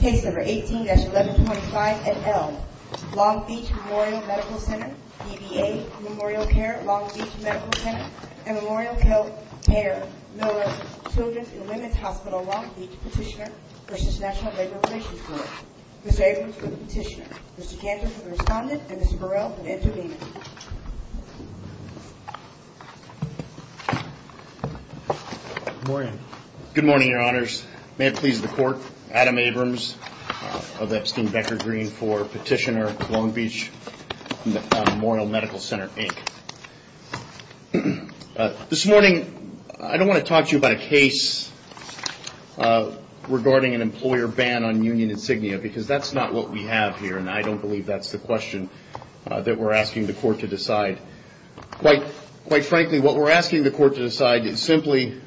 Case number 18-1125 at L. Long Beach Memorial Medical Center, dba MemorialCare Long Beach Medical Center & MemorialCare Miller Children's and Women's Hospital Long Beach Petitioner v. National Labor Relations Board. Mr. Abrams for the petitioner, Mr. Cantor for the respondent, and Mr. Burrell for the intervener. Good morning, your honors. May it please the court, Adam Abrams of Epstein Becker Green for Petitioner Long Beach Memorial Medical Center, Inc. This morning, I don't want to talk to you about a case regarding an employer ban on union insignia, because that's not what we have here, and I don't believe that's the question that we're asking the court to decide. Quite frankly, what we're asking the court to decide is simply,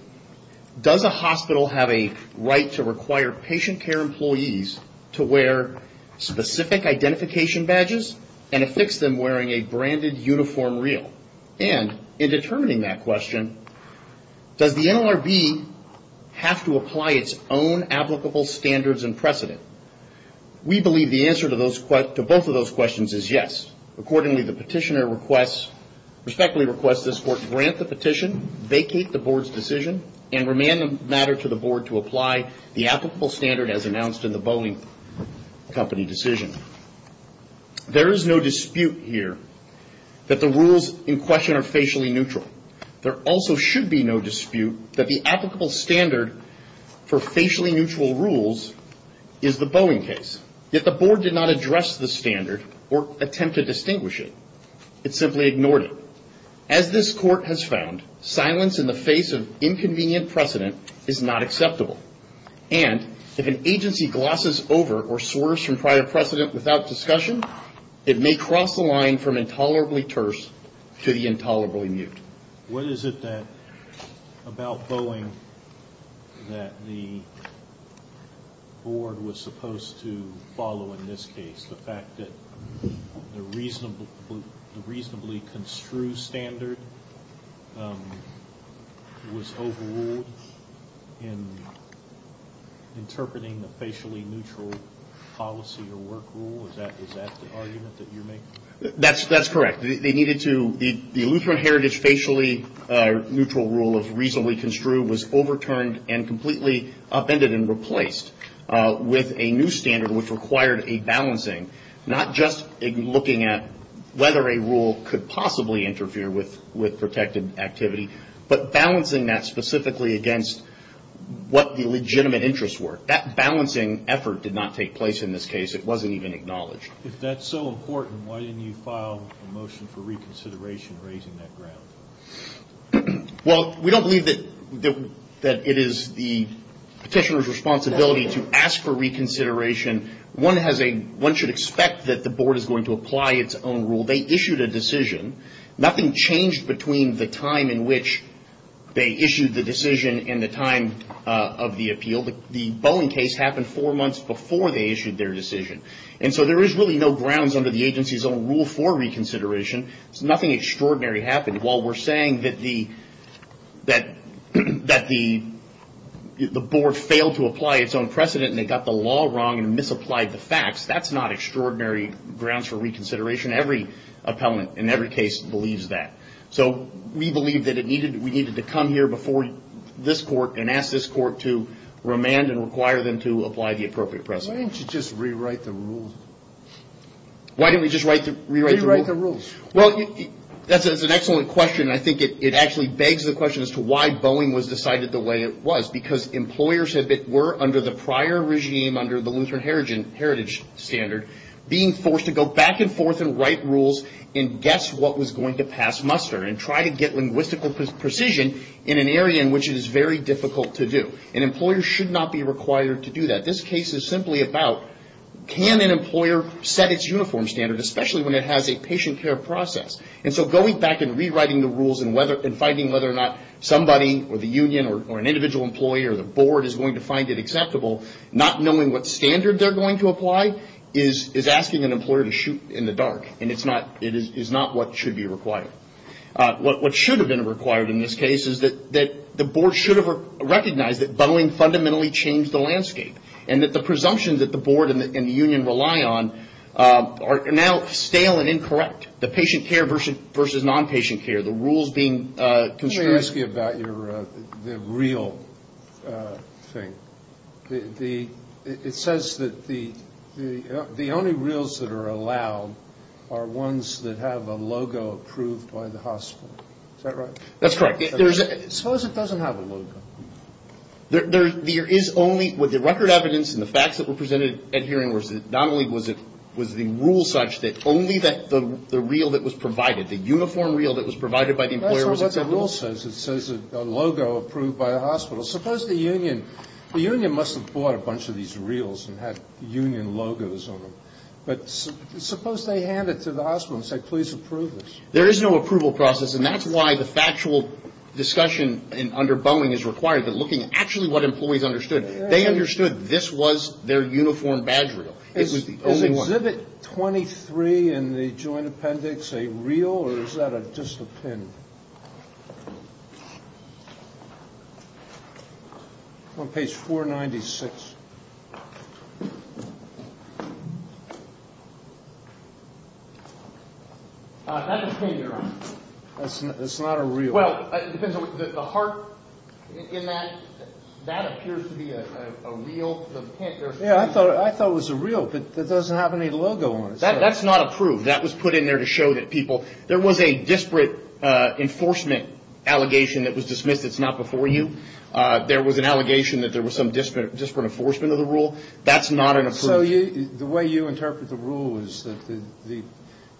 does a hospital have a right to require patient care employees to wear specific identification badges and affix them wearing a branded uniform reel? And in determining that question, does the NLRB have to apply its own applicable standards and precedent? We believe the answer to both of those questions is yes. Accordingly, the petitioner respectfully requests this court grant the petition, vacate the board's decision, and remand the matter to the board to apply the applicable standard as announced in the Boeing Company decision. There is no dispute here that the rules in question are facially neutral. There also should be no dispute that the applicable standard for facially neutral rules is the Boeing case. Yet the board did not address the standard or attempt to distinguish it. It simply ignored it. As this court has found, silence in the face of inconvenient precedent is not acceptable, and if an agency glosses over or swerves from prior precedent without discussion, it may cross the line from intolerably terse to the intolerably mute. What is it about Boeing that the board was supposed to follow in this case? The fact that the reasonably construed standard was overruled in interpreting the facially neutral policy or work rule? Is that the argument that you're making? That's correct. The Lutheran Heritage facially neutral rule of reasonably construed was overturned and completely upended and replaced with a new standard which required a balancing, not just looking at whether a rule could possibly interfere with protected activity, but balancing that specifically against what the legitimate interests were. That balancing effort did not take place in this case. It wasn't even acknowledged. If that's so important, why didn't you file a motion for reconsideration raising that ground? Well, we don't believe that it is the petitioner's responsibility to ask for reconsideration. One should expect that the board is going to apply its own rule. They issued a decision. Nothing changed between the time in which they issued the decision and the time of the appeal. The Boeing case happened four months before they issued their decision. There is really no grounds under the agency's own rule for reconsideration. Nothing extraordinary happened. While we're saying that the board failed to apply its own precedent and they got the law wrong and misapplied the facts, that's not extraordinary grounds for reconsideration. Every appellant in every case believes that. We believe that we needed to come here before this court and ask this court to remand and require them to apply the appropriate precedent. Why didn't you just rewrite the rules? Why didn't we just rewrite the rules? Rewrite the rules. That's an excellent question. I think it actually begs the question as to why Boeing was decided the way it was. Because employers were, under the prior regime, under the Lutheran Heritage Standard, being forced to go back and forth and write rules and guess what was going to pass muster and try to get linguistical precision in an area in which it is very difficult to do. An employer should not be required to do that. This case is simply about can an employer set its uniform standard, especially when it has a patient care process. Going back and rewriting the rules and finding whether or not somebody or the union or an individual employee or the board is going to find it acceptable, not knowing what standard they're going to apply, is asking an employer to shoot in the dark. It is not what should be required. What should have been required in this case is that the board should have recognized that Boeing fundamentally changed the landscape. And that the presumptions that the board and the union rely on are now stale and incorrect. The patient care versus non-patient care, the rules being constrained. Let me ask you about the reel thing. It says that the only reels that are allowed are ones that have a logo approved by the hospital. Is that right? That's correct. Suppose it doesn't have a logo. There is only, with the record evidence and the facts that were presented at hearing, not only was the rule such that only the reel that was provided, the uniform reel that was provided by the employer was acceptable. The rule says it says a logo approved by the hospital. Suppose the union, the union must have bought a bunch of these reels and had union logos on them. But suppose they hand it to the hospital and say, please approve this. There is no approval process. And that's why the factual discussion under Boeing is required, but looking at actually what employees understood. They understood this was their uniform badge reel. Is exhibit 23 in the joint appendix a reel or is that just a pin? On page 496. It's not a reel. Well, the heart in that, that appears to be a reel. Yeah, I thought it was a reel, but it doesn't have any logo on it. That's not approved. That was put in there to show that people, there was a disparate enforcement allegation that was dismissed. It's not before you. There was an allegation that there was some disparate enforcement of the rule. That's not an approval. So the way you interpret the rule is that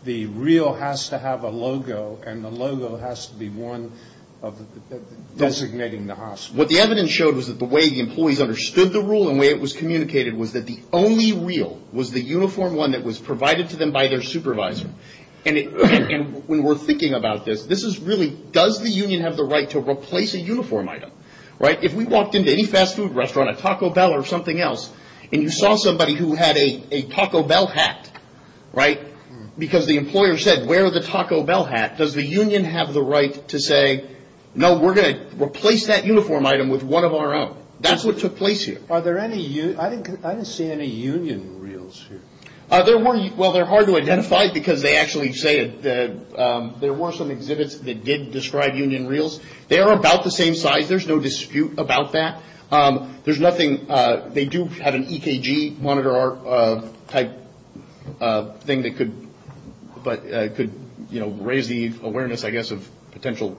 the reel has to have a logo and the logo has to be one of the, designating the hospital. What the evidence showed was that the way the employees understood the rule and the way it was communicated was that the only reel was the uniform one that was provided to them by their supervisor. And when we're thinking about this, this is really, does the union have the right to replace a uniform item? Right? If we walked into any fast food restaurant, a Taco Bell or something else, and you saw somebody who had a Taco Bell hat, right? Because the employer said, wear the Taco Bell hat. Does the union have the right to say, no, we're going to replace that uniform item with one of our own? That's what took place here. Are there any, I didn't see any union reels here. Well, they're hard to identify because they actually say that there were some exhibits that did describe union reels. They are about the same size. There's no dispute about that. There's nothing, they do have an EKG monitor type thing that could raise the awareness, I guess, of potential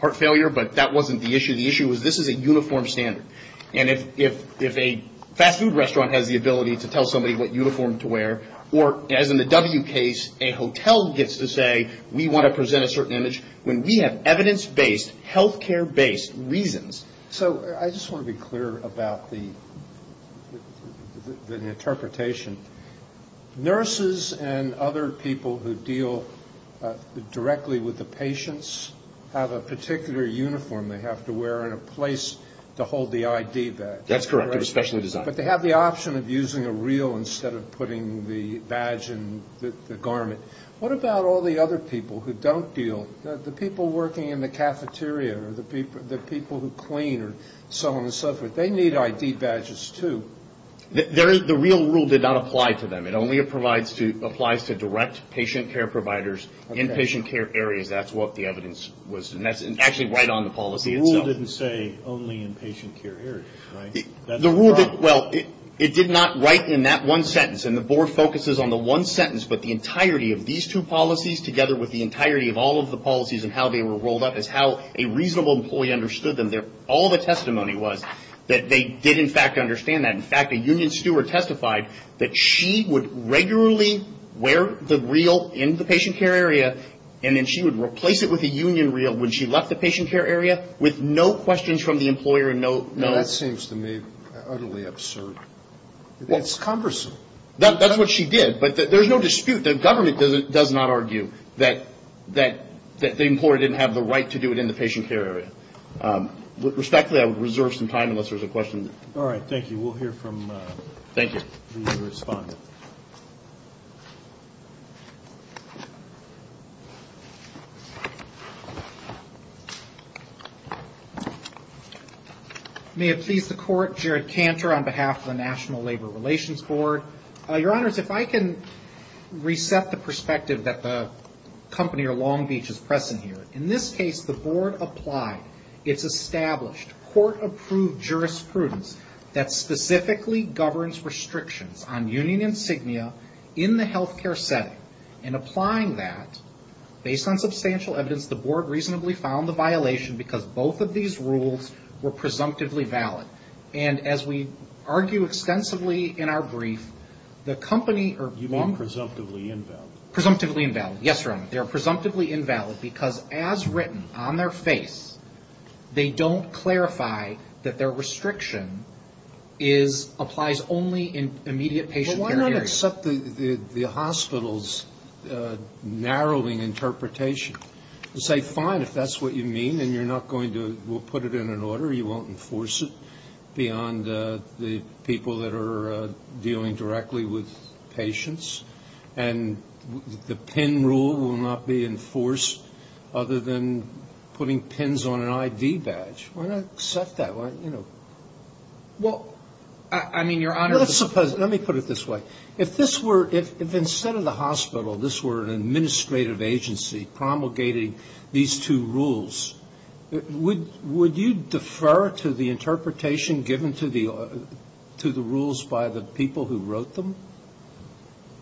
heart failure. But that wasn't the issue. The issue was this is a uniform standard. And if a fast food restaurant has the ability to tell somebody what uniform to wear, or as in the W case, a hotel gets to say, we want to present a certain image. When we have evidence-based, healthcare-based reasons. So I just want to be clear about the interpretation. Nurses and other people who deal directly with the patients have a particular uniform they have to wear and a place to hold the ID badge. That's correct. They're specially designed. But they have the option of using a reel instead of putting the badge in the garment. What about all the other people who don't deal? The people working in the cafeteria or the people who clean or so on and so forth. They need ID badges too. The reel rule did not apply to them. It only applies to direct patient care providers in patient care areas. That's what the evidence was. And that's actually right on the policy itself. The rule didn't say only in patient care areas, right? The rule, well, it did not write in that one sentence. And the board focuses on the one sentence, but the entirety of these two policies together with the entirety of all of the policies and how they were rolled up is how a reasonable employee understood them. All the testimony was that they did, in fact, understand that. In fact, a union steward testified that she would regularly wear the reel in the patient care area, and then she would replace it with a union reel when she left the patient care area with no questions from the employer and no. That seems to me utterly absurd. It's cumbersome. That's what she did. But there's no dispute. The government does not argue that the employer didn't have the right to do it in the patient care area. Respectfully, I would reserve some time unless there's a question. All right. Thank you. We'll hear from the respondent. May it please the court, Jared Cantor on behalf of the National Labor Relations Board. Your Honors, if I can reset the perspective that the company or Long Beach is pressing here. In this case, the board applied, it's established, court-approved jurisprudence that specifically governs restrictions on union insignia in the health care setting. In applying that, based on substantial evidence, the board reasonably found the violation because both of these rules were presumptively valid. And as we argue extensively in our brief, the company or Long Beach. You mean presumptively invalid. Presumptively invalid. Yes, Your Honor. They are presumptively invalid because as written on their face, they don't clarify that their restriction is, applies only in immediate patient care areas. Well, why not accept the hospital's narrowing interpretation? Say, fine, if that's what you mean, and you're not going to, we'll put it in an order, you won't enforce it beyond the people that are dealing directly with patients. And the PIN rule will not be enforced other than putting PINs on an ID badge. Why not accept that? Well, I mean, Your Honor. Let's suppose, let me put it this way. If this were, if instead of the hospital, this were an administrative agency promulgating these two rules, would you defer to the interpretation given to the rules by the people who wrote them?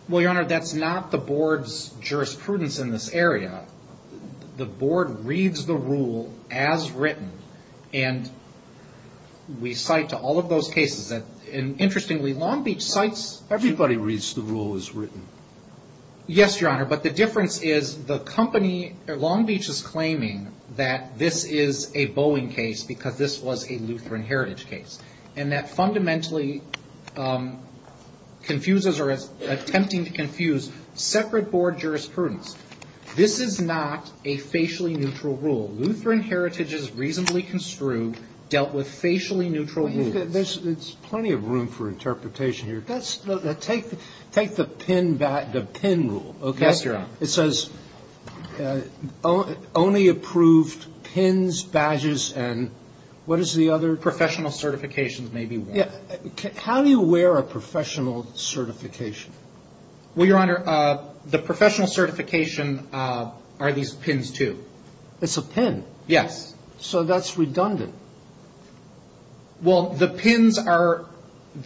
Well, Your Honor, that's not the board's jurisprudence in this area. The board reads the rule as written, and we cite to all of those cases. And interestingly, Long Beach cites everybody. Everybody reads the rule as written. Yes, Your Honor. But the difference is the company, Long Beach is claiming that this is a Boeing case because this was a Lutheran Heritage case. And that fundamentally confuses or is attempting to confuse separate board jurisprudence. This is not a facially neutral rule. Lutheran Heritage is reasonably construed, dealt with facially neutral rules. There's plenty of room for interpretation here. Take the PIN rule, okay? Yes, Your Honor. It says only approved PINs, badges, and what is the other? Professional certifications, maybe. How do you wear a professional certification? Well, Your Honor, the professional certification are these PINs, too. It's a PIN. Yes. So that's redundant. Well, the PINs are,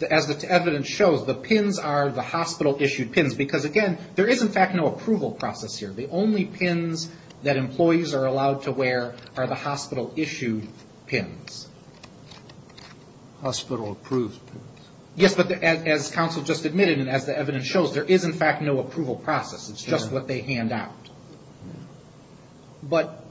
as the evidence shows, the PINs are the hospital-issued PINs because, again, there is, in fact, no approval process here. The only PINs that employees are allowed to wear are the hospital-issued PINs. Hospital-approved PINs. Yes, but as counsel just admitted and as the evidence shows, there is, in fact, no approval process. It's just what they hand out. But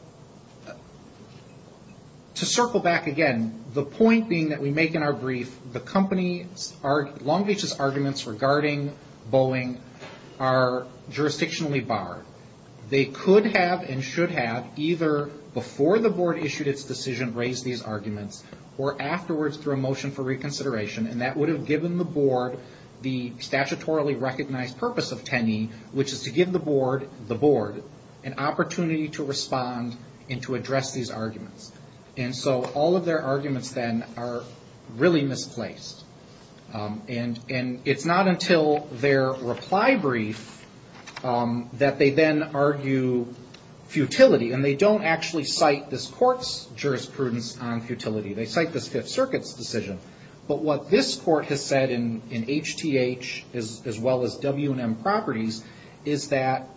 to circle back again, the point being that we make in our brief, Long Beach's arguments regarding Boeing are jurisdictionally barred. They could have and should have either before the board issued its decision raised these arguments or afterwards through a motion for reconsideration, and that would have given the board the statutorily recognized purpose of TENE, which is to give the board an opportunity to respond and to address these arguments. And so all of their arguments, then, are really misplaced. And it's not until their reply brief that they then argue futility. And they don't actually cite this court's jurisprudence on futility. They cite this Fifth Circuit's decision. But what this court has said in HTH, as well as W&M Properties, is that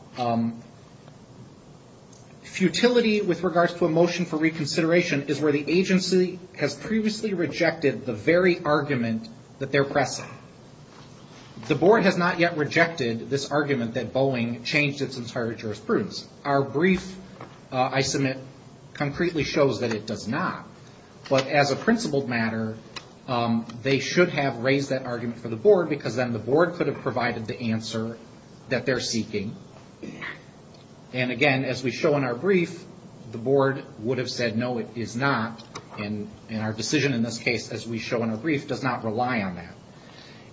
futility with regards to a motion for reconsideration is where the agency has previously rejected the very argument that they're pressing. The board has not yet rejected this argument that Boeing changed its entire jurisprudence. Our brief, I submit, concretely shows that it does not. But as a principled matter, they should have raised that argument for the board, because then the board could have provided the answer that they're seeking. And again, as we show in our brief, the board would have said, no, it is not. And our decision in this case, as we show in our brief, does not rely on that.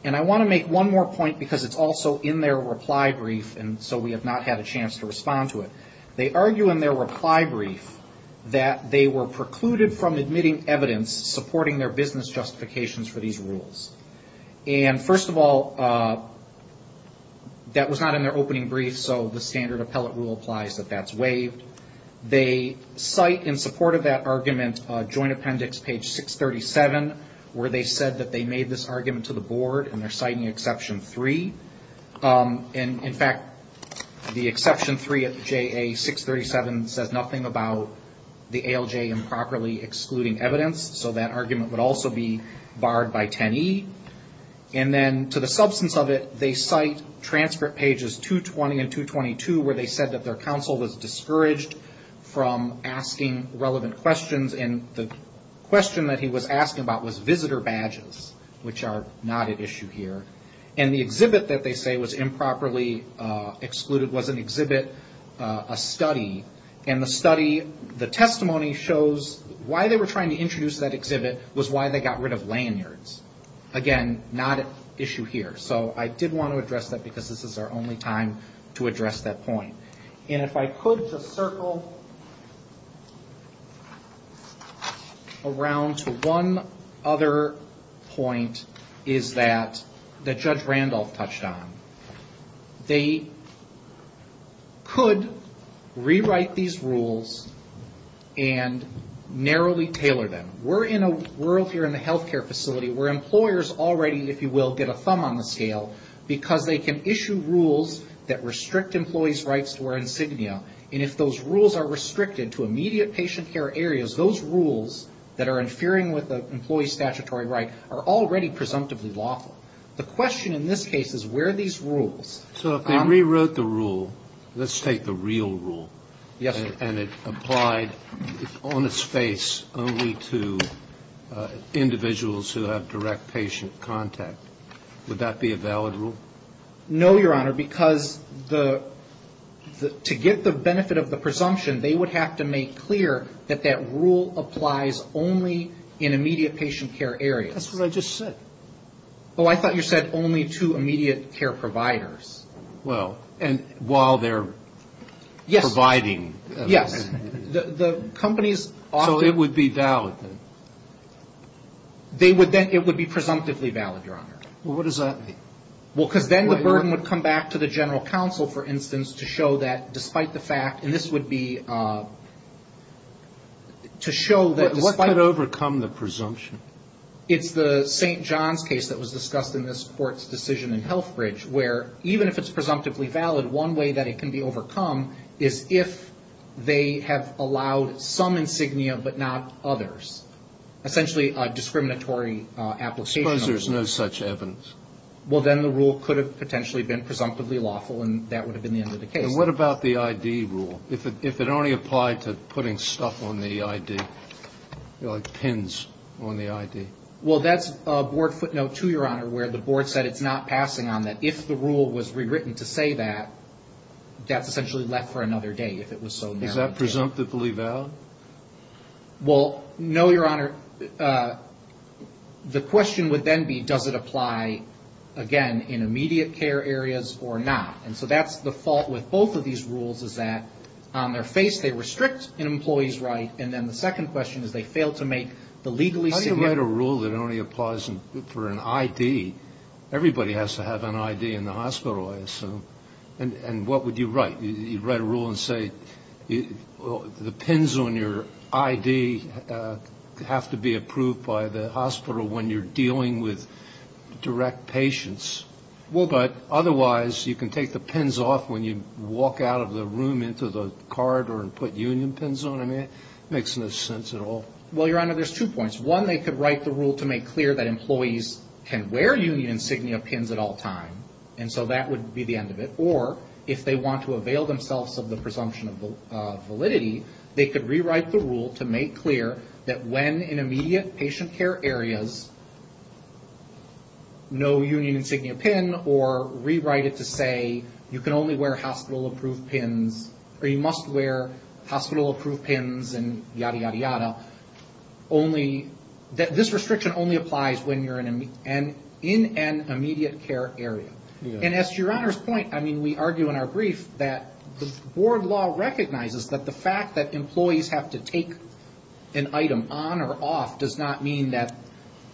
And I want to make one more point, because it's also in their reply brief, and so we have not had a chance to respond to it. They argue in their reply brief that they were precluded from admitting evidence supporting their business justifications for these rules. And first of all, that was not in their opening brief, so the standard appellate rule applies that that's waived. They cite in support of that argument a joint appendix, page 637, where they said that they made this argument to the board, and they're citing Exception 3. And in fact, the Exception 3 of JA 637 says nothing about the ALJ improperly excluding evidence, so that argument would also be barred by 10E. And then to the substance of it, they cite transcript pages 220 and 222, where they said that their counsel was discouraged from asking relevant questions. And the question that he was asking about was visitor badges, which are not at issue here. And the exhibit that they say was improperly excluded was an exhibit, a study. And the study, the testimony shows why they were trying to introduce that exhibit was why they got rid of lanyards. Again, not at issue here. So I did want to address that, because this is our only time to address that point. And if I could just circle around to one other point that Judge Randolph touched on. They could rewrite these rules and narrowly tailor them. We're in a world here in the healthcare facility where employers already, if you will, get a thumb on the scale, because they can issue rules that restrict employees' rights to wear insignia. And if those rules are restricted to immediate patient care areas, those rules that are interfering with an employee's statutory right are already presumptively lawful. The question in this case is where are these rules? So if they rewrote the rule, let's take the real rule, and it applied on its face only to individuals who have direct patient contact, would that be a valid rule? No, Your Honor, because the to get the benefit of the presumption, they would have to make clear that that rule applies only in immediate patient care areas. That's what I just said. Oh, I thought you said only to immediate care providers. Well, and while they're providing. Yes. So it would be valid, then? It would be presumptively valid, Your Honor. Well, what does that mean? Well, because then the burden would come back to the general counsel, for instance, to show that despite the fact, and this would be to show that despite. What could overcome the presumption? It's the St. John's case that was discussed in this Court's decision in Healthbridge, where even if it's presumptively valid, one way that it can be overcome is if they have allowed some insignia, but not others. Essentially a discriminatory application. Suppose there's no such evidence. Well, then the rule could have potentially been presumptively lawful, and that would have been the end of the case. And what about the I.D. rule, if it only applied to putting stuff on the I.D., like pins on the I.D.? Well, that's a board footnote, too, Your Honor, where the board said it's not passing on that. If the rule was rewritten to say that, that's essentially left for another day, if it was so narrowed down. Is that presumptively valid? Well, no, Your Honor. The question would then be, does it apply, again, in immediate care areas or not? And so that's the fault with both of these rules, is that on their face they restrict an employee's right, and then the second question is they fail to make the legally significant... How do you write a rule that only applies for an I.D.? Everybody has to have an I.D. in the hospital, I assume. And what would you write? You'd write a rule and say the pins on your I.D. have to be approved by the hospital when you're dealing with direct patients. Well, but otherwise you can take the pins off when you walk out of the room into the corridor and put union pins on them. It makes no sense at all. Well, Your Honor, there's two points. One, they could write the rule to make clear that employees can wear union insignia pins at all times, and so that would be the end of it, or if they want to avail themselves of the presumption of validity, they could rewrite the rule to make clear that when in immediate patient care areas, no union insignia pin, or rewrite it to say you can only wear hospital-approved pins, or you must wear hospital-approved pins, and yada, yada, yada, this restriction only applies when you're in an immediate care area. And as to Your Honor's point, I mean, we argue in our brief that the board law recognizes that the fact that employees have to take an item on or off does not mean that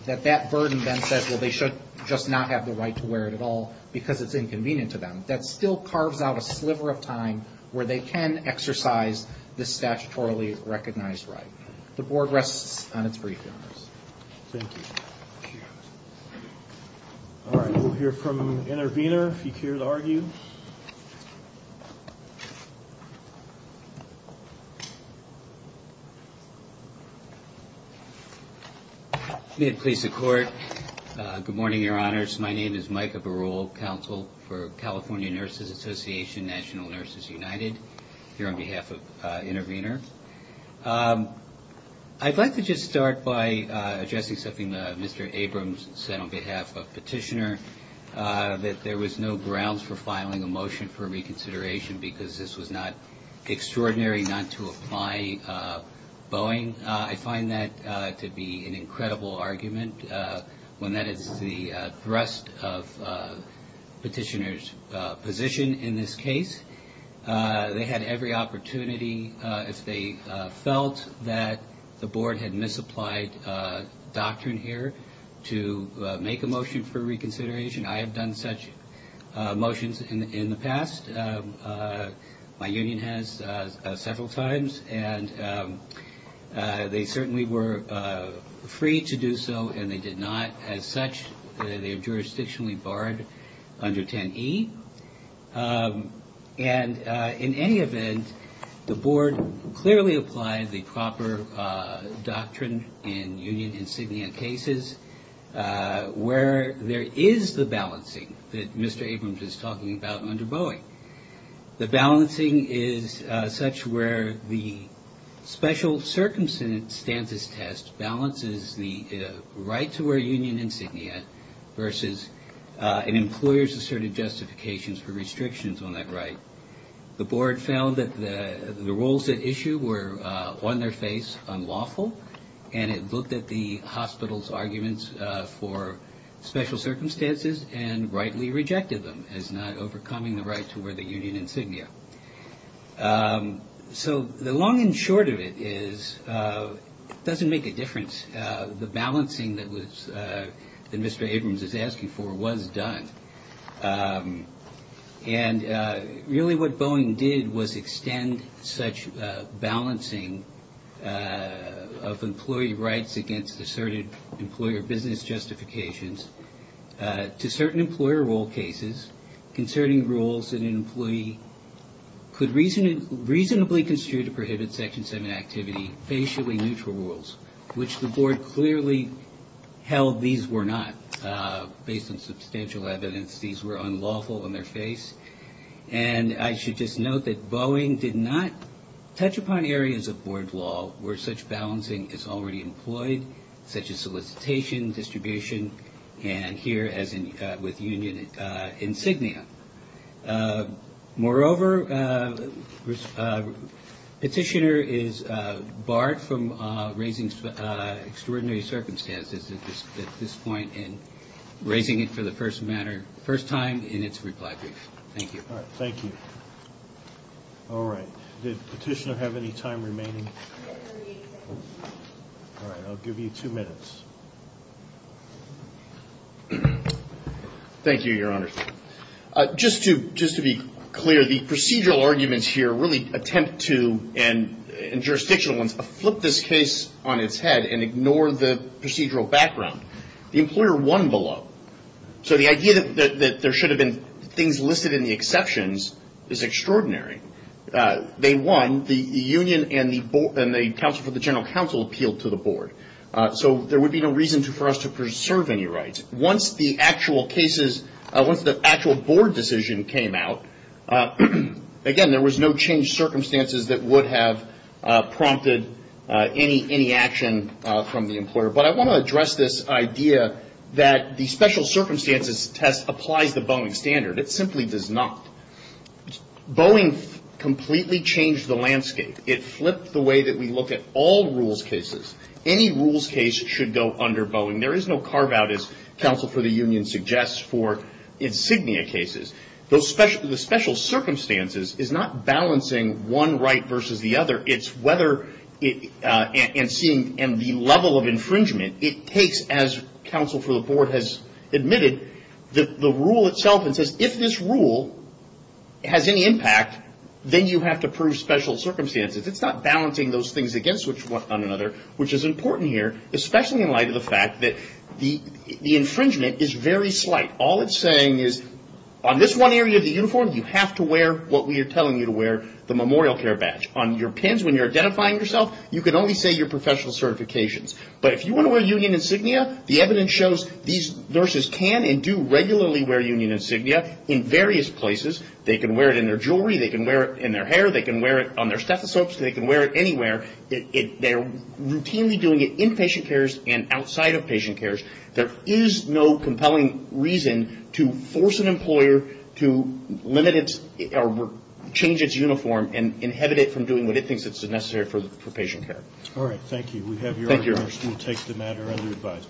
that burden then says, well, they should just not have the right to wear it at all because it's inconvenient to them. That still carves out a sliver of time where they can exercise the statutorily recognized right. The board rests on its brief, Your Honor. Thank you. All right, we'll hear from Intervenor, if he cares to argue. May it please the Court. Good morning, Your Honors. My name is Micah Barule, Counsel for California Nurses Association, National Nurses United, here on behalf of Intervenor. I'd like to just start by addressing something that Mr. Abrams said on behalf of Petitioner, that there was no grounds for filing a motion for reconsideration because this was not extraordinary not to apply Boeing. I find that to be an incredible argument when that is the thrust of Petitioner's position in this case. They had every opportunity, if they felt that the board had misapplied doctrine here, to make a motion for reconsideration. I have done such motions in the past. My union has several times, and they certainly were free to do so, and they did not. As such, they are jurisdictionally barred under 10E. And in any event, the board clearly applied the proper doctrine in union insignia cases, where there is the balancing that Mr. Abrams is talking about under Boeing. The balancing is such where the special circumstances test balances the right to wear union insignia versus an employer's asserted justifications for restrictions on that right. The board found that the rules at issue were on their face unlawful, and it looked at the hospital's arguments for special circumstances and rightly rejected them as not overcoming the right to wear the union insignia. So the long and short of it is it doesn't make a difference. The balancing that Mr. Abrams is asking for was done. And really what Boeing did was extend such balancing of employee rights against asserted employer business justifications to certain employer role cases concerning rules that an employee could reasonably construe to prohibit Section 7 activity, facially neutral rules, which the board clearly held these were not. Based on substantial evidence, these were unlawful on their face. And I should just note that Boeing did not touch upon areas of board law where such balancing is already employed, such as solicitation, distribution, and here, as with union insignia. Moreover, Petitioner is barred from raising extraordinary circumstances at this point and raising it for the first time in its reply brief. Thank you. Thank you. All right. Did Petitioner have any time remaining? All right. I'll give you two minutes. Thank you, Your Honor. Just to be clear, the procedural arguments here really attempt to, and jurisdictional ones, flip this case on its head and ignore the procedural background. The employer won below. So the idea that there should have been things listed in the exceptions is extraordinary. They won. The union and the counsel for the general counsel appealed to the board. So there would be no reason for us to preserve any rights. Once the actual board decision came out, again, there was no changed circumstances that would have prompted any action from the employer. But I want to address this idea that the special circumstances test applies the Boeing standard. It simply does not. Boeing completely changed the landscape. It flipped the way that we look at all rules cases. Any rules case should go under Boeing. There is no carve-out, as counsel for the union suggests, for insignia cases. The special circumstances is not balancing one right versus the other. It's whether and seeing the level of infringement. It takes, as counsel for the board has admitted, the rule itself and says, if this rule has any impact, then you have to prove special circumstances. It's not balancing those things against one another, which is important here, especially in light of the fact that the infringement is very slight. All it's saying is, on this one area of the uniform, you have to wear what we are telling you to wear, the memorial care badge. On your pins, when you're identifying yourself, you can only say your professional certifications. But if you want to wear union insignia, the evidence shows these nurses can and do regularly wear union insignia in various places. They can wear it in their jewelry. They can wear it in their hair. They can wear it on their stethoscopes. They can wear it anywhere. They're routinely doing it in patient cares and outside of patient cares. There is no compelling reason to force an employer to limit its or change its uniform and inhibit it from doing what it thinks is necessary for patient care. All right. Thank you. We have your order. We'll take the matter under advice.